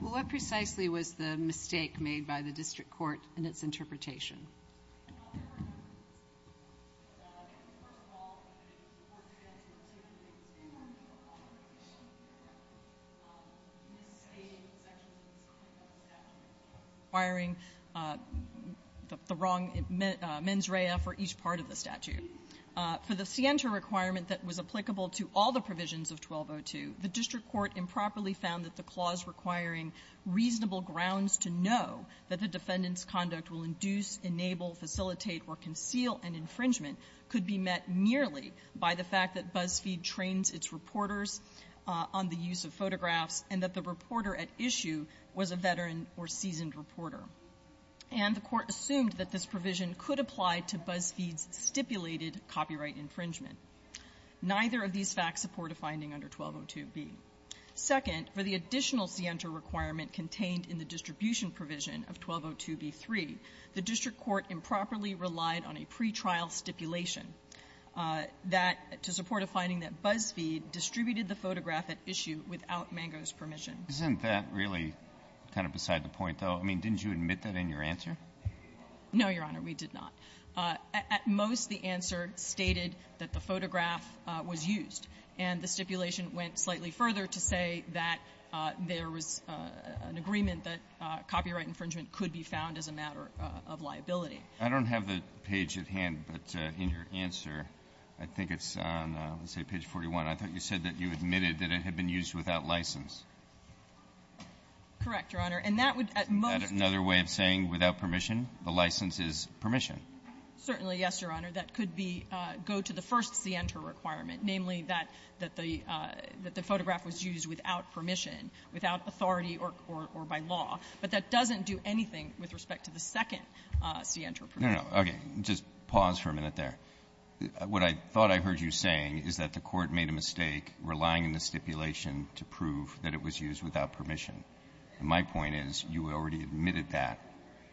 Well, what precisely was the mistake made by the district court in its interpretation? Well, there were a number of mistakes. I think, first of all, the court did ask for some of the things they wanted to offer, but they didn't. They misstated sections of the statute requiring the wrong mens rea for each part of the statute. For the scienter requirement that was applicable to all the provisions of 1202, the district court improperly found that the clause requiring reasonable grounds to know that the defendant's conduct will induce, enable, facilitate, or conceal an infringement could be met merely by the fact that Buzzfeed trains its reporters on the use of photographs and that the reporter at issue was a veteran or seasoned reporter. And the court assumed that this provision could apply to Buzzfeed's stipulated copyright infringement. Neither of these facts support a finding under 1202b. Second, for the additional scienter requirement contained in the distribution provision of 1202b-3, the district court improperly relied on a pretrial stipulation that to support a finding that Buzzfeed distributed the photograph at issue without Mango's permission. Isn't that really kind of beside the point, though? I mean, didn't you admit that in your answer? No, Your Honor. We did not. At most, the answer stated that the photograph was used. And the stipulation went slightly further to say that there was an agreement that copyright infringement could be found as a matter of liability. I don't have the page at hand, but in your answer, I think it's on, let's say, page 41. I thought you said that you admitted that it had been used without license. Correct, Your Honor. And that would, at most of the time be used without license. It's not permission. The license is permission. Certainly, yes, Your Honor. That could be go to the first scienter requirement, namely that the photograph was used without permission, without authority or by law. But that doesn't do anything with respect to the second scienter provision. No, no. Okay. Just pause for a minute there. What I thought I heard you saying is that the Court made a mistake relying on the stipulation to prove that it was used without permission. And my point is, you already admitted that.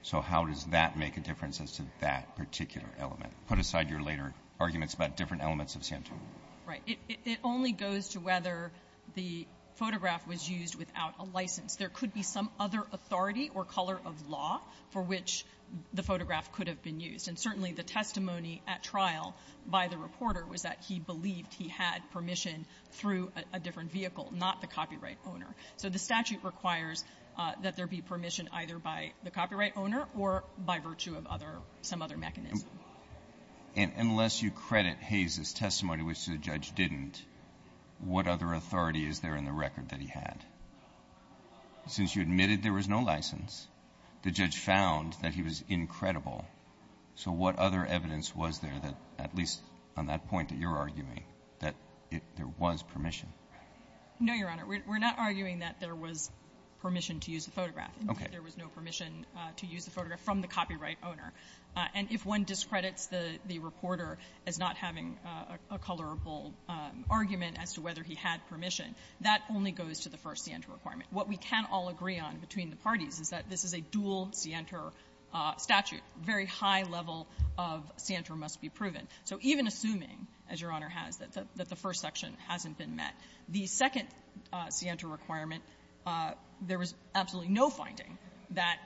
So how does that make a difference as to that particular element? Put aside your later arguments about different elements of Santorum. Right. It only goes to whether the photograph was used without a license. There could be some other authority or color of law for which the photograph could have been used. And certainly, the testimony at trial by the reporter was that he believed he had permission through a different vehicle, not the copyright owner. So the statute requires that there be permission either by the copyright owner or by virtue of other – some other mechanism. And unless you credit Hayes' testimony, which the judge didn't, what other authority is there in the record that he had? Since you admitted there was no license, the judge found that he was incredible. So what other evidence was there that, at least on that point that you're arguing, that there was permission? No, Your Honor. We're not arguing that there was permission to use the photograph. Okay. There was no permission to use the photograph from the copyright owner. And if one discredits the reporter as not having a colorable argument as to whether he had permission, that only goes to the first scienter requirement. What we can all agree on between the parties is that this is a dual scienter statute. Very high level of scienter must be proven. So even assuming, as Your Honor has, that the first section hasn't been met, the second scienter requirement, there was absolutely no finding that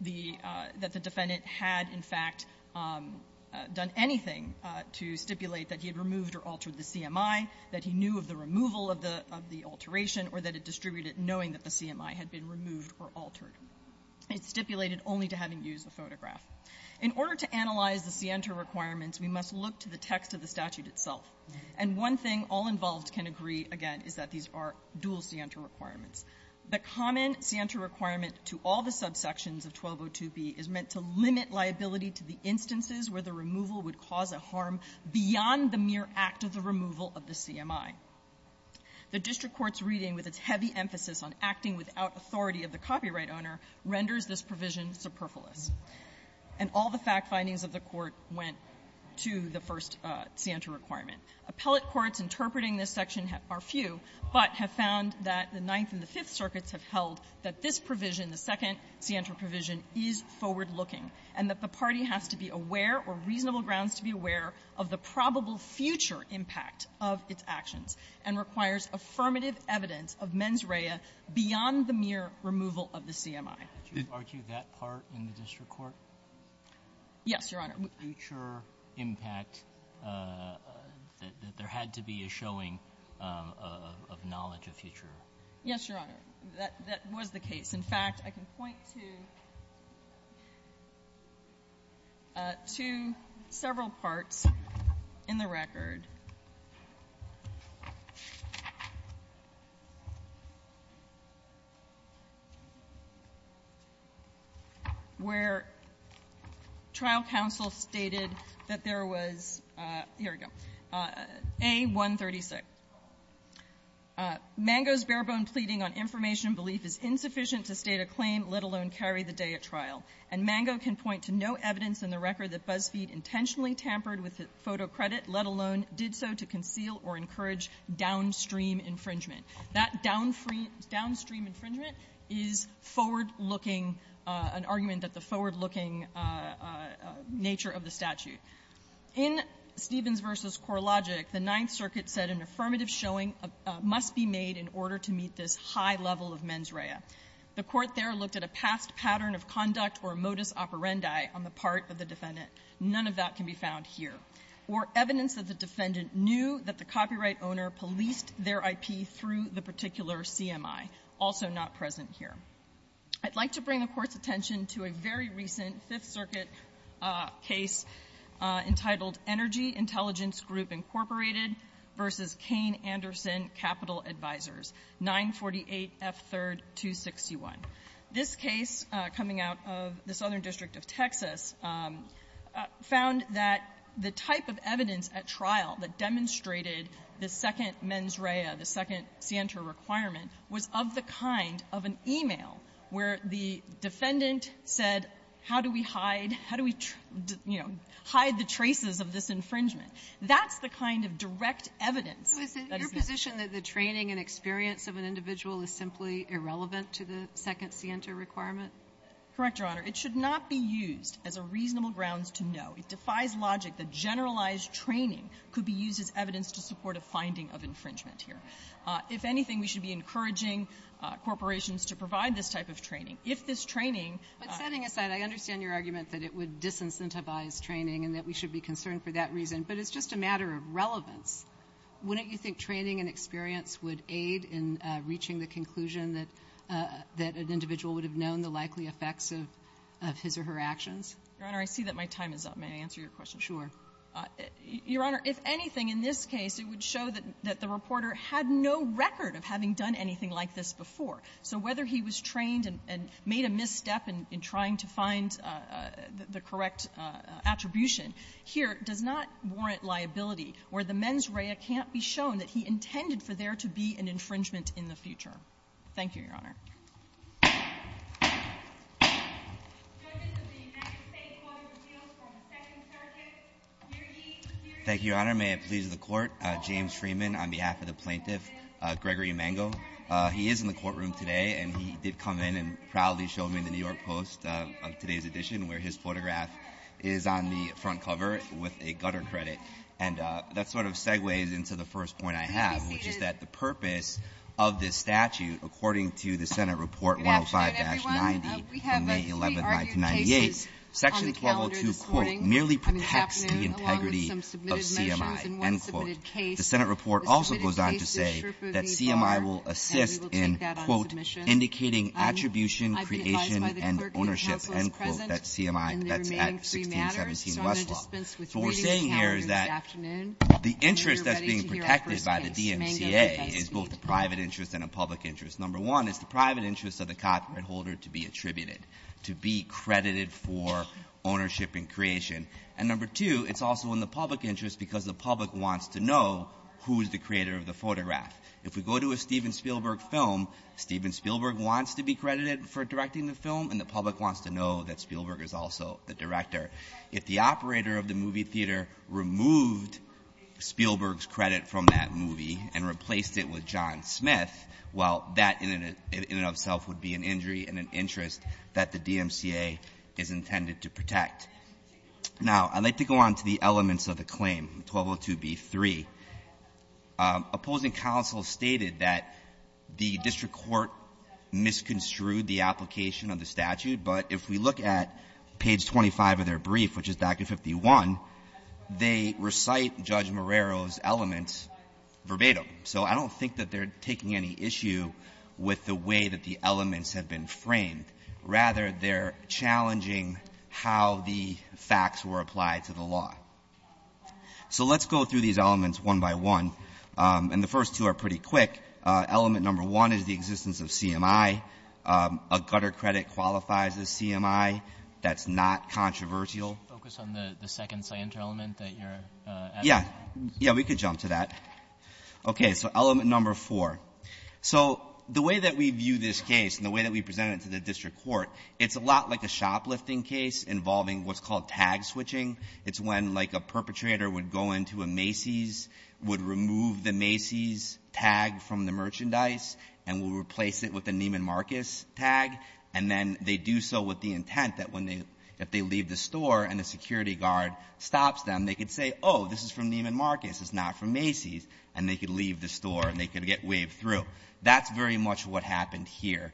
the – that the defendant had, in fact, done anything to stipulate that he had removed or altered the CMI, that he knew of the removal of the – of the alteration, or that it distributed knowing that the CMI had been removed or altered. It stipulated only to having used the photograph. In order to analyze the scienter requirements, we must look to the text of the statute itself. And one thing all involved in the can agree, again, is that these are dual scienter requirements. The common scienter requirement to all the subsections of 1202b is meant to limit liability to the instances where the removal would cause a harm beyond the mere act of the removal of the CMI. The district court's reading, with its heavy emphasis on acting without authority of the copyright owner, renders this provision superfluous. And all the fact findings of the Court went to the first scienter requirement. Appellate courts interpreting this section are few, but have found that the Ninth and the Fifth Circuits have held that this provision, the second scienter provision, is forward-looking, and that the party has to be aware or reasonable grounds to be aware of the probable future impact of its actions and requires affirmative evidence of mens rea beyond the mere removal of the CMI. Roberts. Did you argue that part in the district court? Yes, Your Honor. The future impact, that there had to be a showing of knowledge of future? Yes, Your Honor. That was the case. In fact, I can point to several parts in the record where trial counsels have been able to point to evidence in the record that BuzzFeed intentionally tampered with the photo credit, let alone did so to conceal or encourage downstream infringement. That downstream infringement is forward-looking, an argument that the forward-looking nature of the statute. In Stevens v. Korlogic, the Ninth Circuit said an affirmative showing must be made in order to meet this high level of mens rea. The Court there looked at a past pattern of conduct or modus operandi on the part of the defendant. None of that can be found here. Or evidence that the defendant knew that the copyright owner policed their IP through the particular CMI, also not present here. I'd like to bring the Court's attention to a very recent, fairly recent case that was brought to the Fifth Circuit, a case entitled Energy Intelligence Group, Inc. v. Cain Anderson Capital Advisors, 948 F. 3rd. 261. This case, coming out of the Southern District of Texas, found that the type of evidence at trial that demonstrated the second mens rea, the second scienter requirement, was of the kind of an e-mail where the defendant said, how do we hide, how do we, you know, hide the traces of this infringement. That's the kind of direct evidence that is there. Kagan. Kagan. Is it your position that the training and experience of an individual is simply irrelevant to the second scienter requirement? Correct, Your Honor. It should not be used as a reasonable grounds to know. It defies logic that generalized training could be used as evidence to support a finding of infringement here. If anything, we should be encouraging corporations to provide this type of training. If this training ---- But setting aside, I understand your argument that it would disincentivize training and that we should be concerned for that reason. But it's just a matter of relevance. Wouldn't you think training and experience would aid in reaching the conclusion that an individual would have known the likely effects of his or her actions? Your Honor, I see that my time is up. May I answer your question? Sure. Your Honor, if anything, in this case, it would show that the reporter had no record of having done anything like this before. So whether he was trained and made a misstep in trying to find the correct attribution here does not warrant liability where the mens rea can't be shown that he intended for there to be an infringement in the future. Thank you, Your Honor. Thank you, Your Honor. May it please the Court, James Freeman on behalf of the plaintiff, Gregory Emengo. He is in the courtroom today and he did come in and proudly showed me the New York Post of today's edition where his photograph is on the front cover with a gutter credit. And that sort of segues into the first point I have, which is that the purpose of this statute, according to the Senate Report 105-90 from May 11, 1998, Section 1202, quote, merely protects the integrity of CMI, end quote. The Senate report also goes on to say that CMI will assist in, quote, indicating attribution, creation, and ownership, end quote, that CMI that's at 1617 Westlaw. What we're saying here is that the interest that's being protected by the DMCA is both a private interest and a public interest. Number one, it's the private interest of the copyright holder to be attributed, to be credited for ownership and creation. And number two, it's also in the public interest because the public wants to know who is the creator of the photograph. If we go to a Steven Spielberg film, Steven Spielberg wants to be credited for directing the film and the public wants to know that Spielberg is also the director. If the operator of the movie theater removed Spielberg's credit from that movie and replaced it with John Smith, well, that in and of itself would be an injury and an interest that the DMCA is intended to protect. Now, I'd like to go on to the elements of the claim, 1202b-3. Opposing counsel stated that the district court misconstrued the application of the statute, but if we look at page 25 of their brief, which is document 51, they recite Judge Marrero's elements verbatim. So I don't think that they're taking any issue with the way that the elements have been framed. Rather, they're challenging how the facts were applied to the law. So let's go through these elements one by one. And the first two are pretty quick. Element number one is the existence of CMI. A gutter credit qualifies as CMI. That's not controversial. Focus on the second scienter element that you're asking. Yeah. Yeah, we could jump to that. Okay. So element number four. So the way that we view this case and the way that we present it to the district court, it's a lot like a shoplifting case involving what's called tag switching. It's when, like, a perpetrator would go into a Macy's, would remove the Macy's tag from the merchandise, and will replace it with a Neiman Marcus tag. And then they do so with the intent that if they leave the store and the security guard stops them, they could say, oh, this is from Neiman Marcus, it's not from Macy's, and they could leave the store and they could get waved through. That's very much what happened here.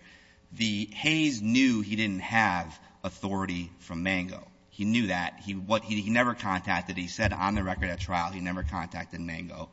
The Hays knew he didn't have authority from Mango. He knew that. He never contacted, he said on the record at trial, he never contacted Mango.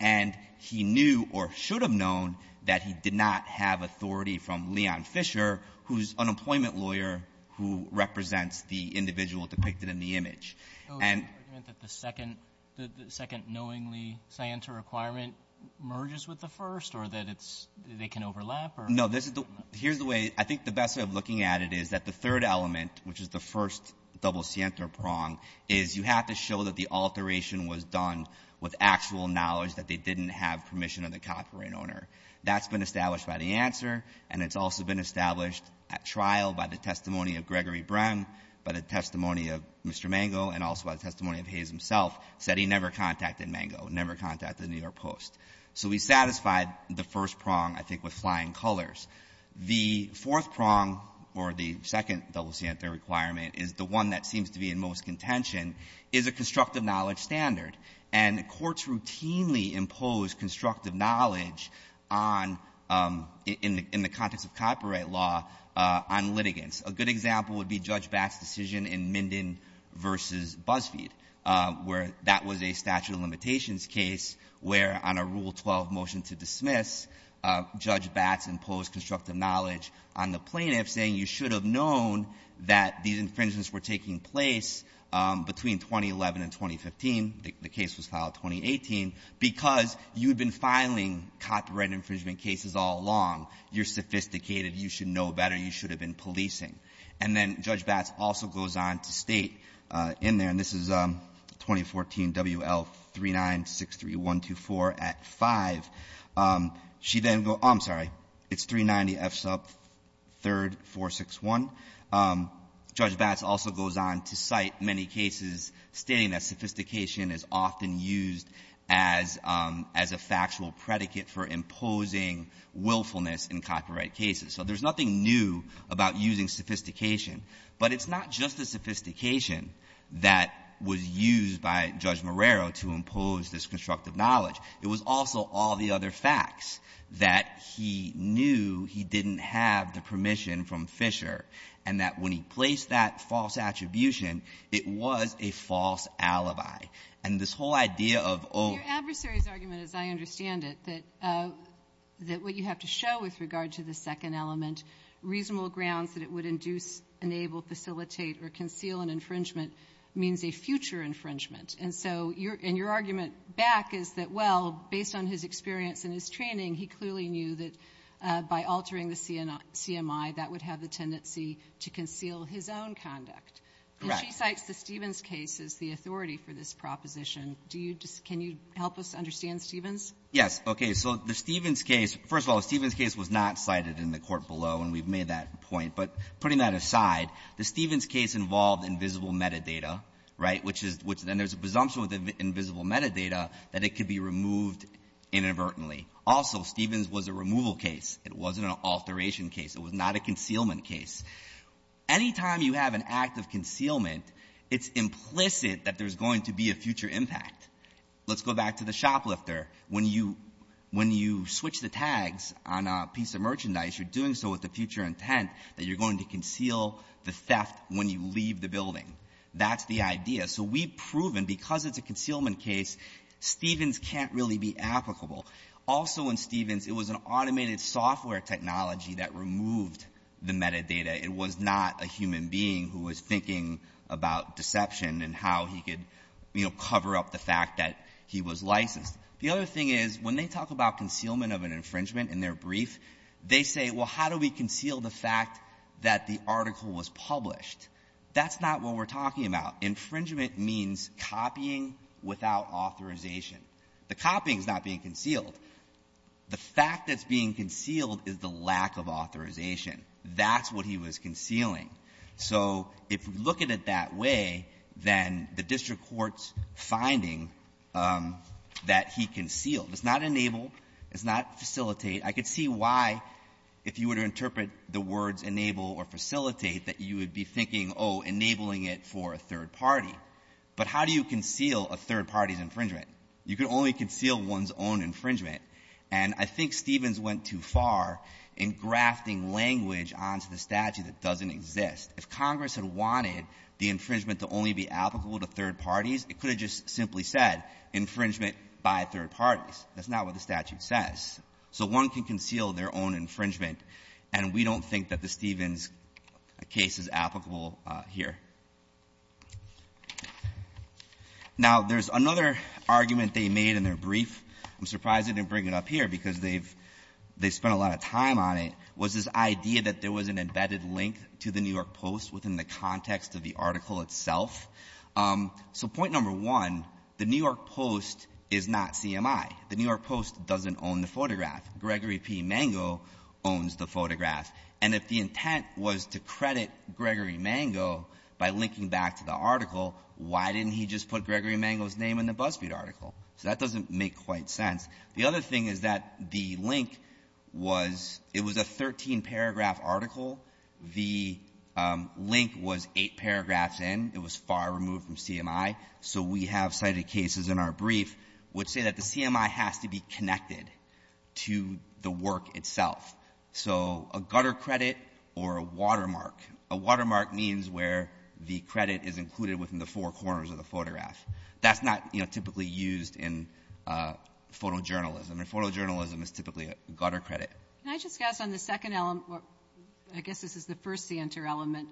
And he knew or should have known that he did not have authority from Leon Fisher, whose unemployment lawyer who represents the individual depicted in the image. So is it the second knowingly scienter requirement merges with the first or that it's, they can overlap or- No, this is the, here's the way, I think the best way of looking at it is that the third element, which is the first double scienter prong, is you have to show that the alteration was done with actual knowledge that they didn't have permission of the copyright owner. That's been established by the answer, and it's also been established at trial by the testimony of Gregory Bren, by the testimony of Mr. Mango, and also by the testimony of Hays himself, said he never contacted Mango, never contacted the New York Post. So we satisfied the first prong, I think, with flying colors. The fourth prong, or the second double scienter requirement, is the one that seems to be in most contention, is a constructive knowledge standard. And courts routinely impose constructive knowledge on, in the context of copyright law, on litigants. A good example would be Judge Batts' decision in Minden versus BuzzFeed, where that was a statute of limitations case where on a Rule 12 motion to dismiss, Judge Batts imposed constructive knowledge on the plaintiff saying you should have known that these infringements were taking place between 2011 and 2015, the case was filed 2018, because you'd been filing copyright infringement cases all along. You're sophisticated, you should know better, you should have been policing. And then Judge Batts also goes on to state in there, and this is 2014 WL3963124 Act 5, she then, I'm sorry, it's 390F sub 3rd461. Judge Batts also goes on to cite many cases stating that sophistication is often used as a factual predicate for imposing willfulness in copyright cases. So there's nothing new about using sophistication. But it's not just the sophistication that was used by Judge Marrero to impose this constructive knowledge. It was also all the other facts that he knew he didn't have the permission from Fisher, and that when he placed that false attribution, it was a false alibi. And this whole idea of owning the law. Your adversary's argument, as I understand it, that what you have to show with regard to the second element, reasonable grounds that it would induce, enable, facilitate, or conceal an infringement means a future infringement. And so your argument back is that, well, based on his experience and his training, he clearly knew that by altering the CMI, that would have the tendency to conceal his own conduct. Correct. And she cites the Stevens case as the authority for this proposition. Do you just can you help us understand Stevens? Yes. Okay. So the Stevens case, first of all, the Stevens case was not cited in the court below, and we've made that point. But putting that aside, the Stevens case involved invisible metadata, right, which then there's a presumption with invisible metadata that it could be removed inadvertently. Also, Stevens was a removal case. It wasn't an alteration case. It was not a concealment case. Anytime you have an act of concealment, it's implicit that there's going to be a future impact. Let's go back to the shoplifter. When you switch the tags on a piece of merchandise, you're doing so with the future intent that you're going to conceal the theft when you leave the building. That's the idea. So we've proven because it's a concealment case, Stevens can't really be applicable. Also in Stevens, it was an automated software technology that removed the metadata. It was not a human being who was thinking about deception and how he could, you know, cover up the fact that he was licensed. The other thing is, when they talk about concealment of an infringement in their brief, they say, well, how do we conceal the fact that the article was published? That's not what we're talking about. Infringement means copying without authorization. The copying is not being concealed. The fact that's being concealed is the lack of authorization. That's what he was concealing. So if we look at it that way, then the district court's finding that he concealed. It's not enable. It's not facilitate. I could see why, if you were to interpret the words enable or facilitate, that you would be thinking, oh, enabling it for a third party. But how do you conceal a third party's infringement? You can only conceal one's own infringement. And I think Stevens went too far in grafting language onto the statute that doesn't exist. If Congress had wanted the infringement to only be applicable to third parties, it could have just simply said infringement by third parties. That's not what the statute says. So one can conceal their own infringement, and we don't think that the Stevens case is applicable here. Now there's another argument they made in their brief. I'm surprised they didn't bring it up here because they've spent a lot of time on it, was this idea that there was an embedded link to the New York Post within the context of the article itself. So point number one, the New York Post is not CMI. The New York Post doesn't own the photograph. Gregory P. Mango owns the photograph. And if the intent was to credit Gregory Mango by linking back to the article, why didn't he just put Gregory Mango's name in the BuzzFeed article? So that doesn't make quite sense. The other thing is that the link was — it was a 13-paragraph article. The link was eight paragraphs in. It was far removed from CMI. So we have cited cases in our brief which say that the CMI has to be connected to the work itself. So a gutter credit or a watermark. A watermark means where the credit is included within the four corners of the photograph. That's not, you know, typically used in photojournalism, and photojournalism is typically a gutter credit. Can I just ask on the second — I guess this is the first scienter element.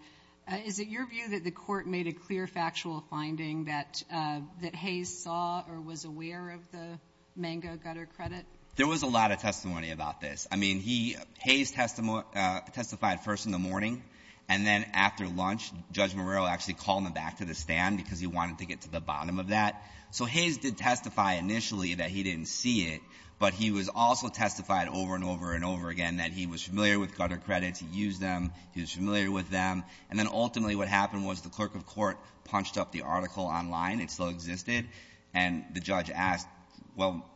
Is it your view that the Court made a clear factual finding that Hayes saw or was aware of the Mango gutter credit? There was a lot of testimony about this. I mean, he — Hayes testified first in the morning, and then after lunch, Judge Marrero actually called him back to the stand because he wanted to get to the bottom of that. So Hayes did testify initially that he didn't see it, but he was also testified over and over and over again that he was familiar with gutter credits, he used them, he was familiar with them. And then ultimately what happened was the clerk of court punched up the article online. It still existed. And the judge asked, well,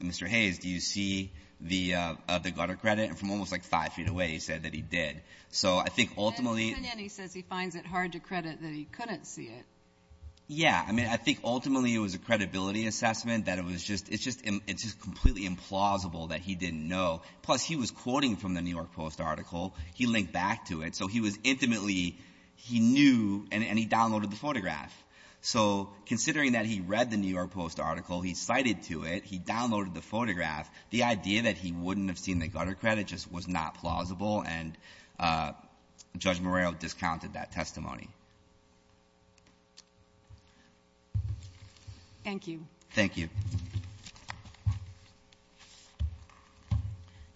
Mr. Hayes, do you see the gutter credit? And from almost like five feet away, he said that he did. So I think ultimately — And then he says he finds it hard to credit that he couldn't see it. Yeah. I mean, I think ultimately it was a credibility assessment that it was just — it's just completely implausible that he didn't know. Plus, he was quoting from the New York Post article. He linked back to it. So he was intimately — he knew, and he downloaded the photograph. So considering that he read the New York Post article, he cited to it, he downloaded the photograph, the idea that he wouldn't have seen the gutter credit just was not plausible, and Judge Morrell discounted that testimony. Thank you. Thank you.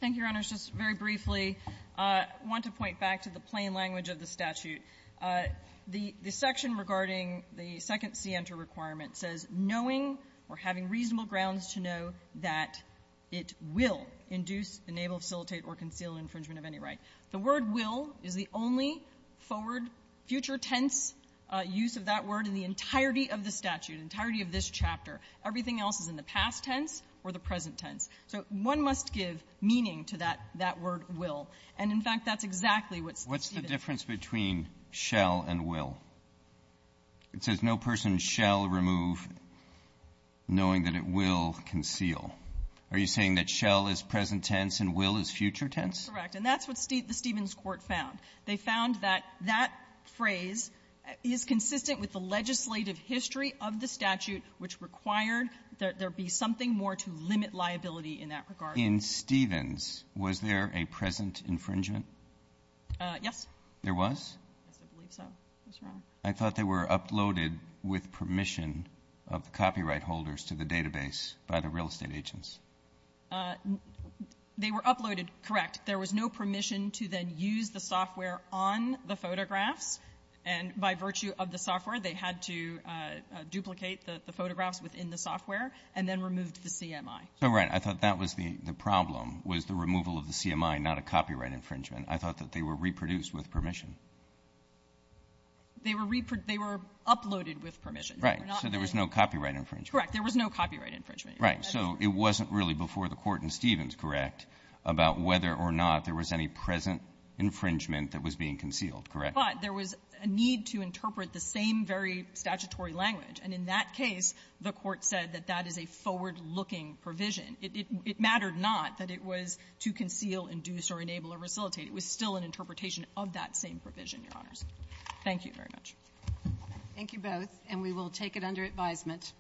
Thank you, Your Honors. Just very briefly, I want to point back to the plain language of the statute. The section regarding the second CENTER requirement says, knowing or having reasonable grounds to know that it will induce, enable, facilitate, or conceal infringement of any right. The word will is the only forward, future tense use of that word in the entirety of the statute, entirety of this chapter. Everything else is in the past tense or the present tense. So one must give meaning to that — that word will. And, in fact, that's exactly what's — What does that mean, shall and will? It says, no person shall remove, knowing that it will conceal. Are you saying that shall is present tense and will is future tense? Correct. And that's what the Stevens court found. They found that that phrase is consistent with the legislative history of the statute, which required that there be something more to limit liability in that regard. In Stevens, was there a present infringement? Yes. There was? Yes, I believe so. What's wrong? I thought they were uploaded with permission of the copyright holders to the database by the real estate agents. They were uploaded. Correct. There was no permission to then use the software on the photographs. And by virtue of the software, they had to duplicate the photographs within the software and then removed the CMI. So, right. I thought that was the problem, was the removal of the CMI, not a copyright infringement. I thought that they were reproduced with permission. They were reproduced. They were uploaded with permission. Right. So there was no copyright infringement. Correct. There was no copyright infringement. Right. So it wasn't really before the court in Stevens, correct, about whether or not there was any present infringement that was being concealed, correct? But there was a need to interpret the same very statutory language. And in that case, the court said that that is a forward-looking provision. It mattered not that it was to conceal, induce, or enable, or resuscitate. It was still an interpretation of that same provision, Your Honors. Thank you very much. Thank you both. And we will take it under advisement.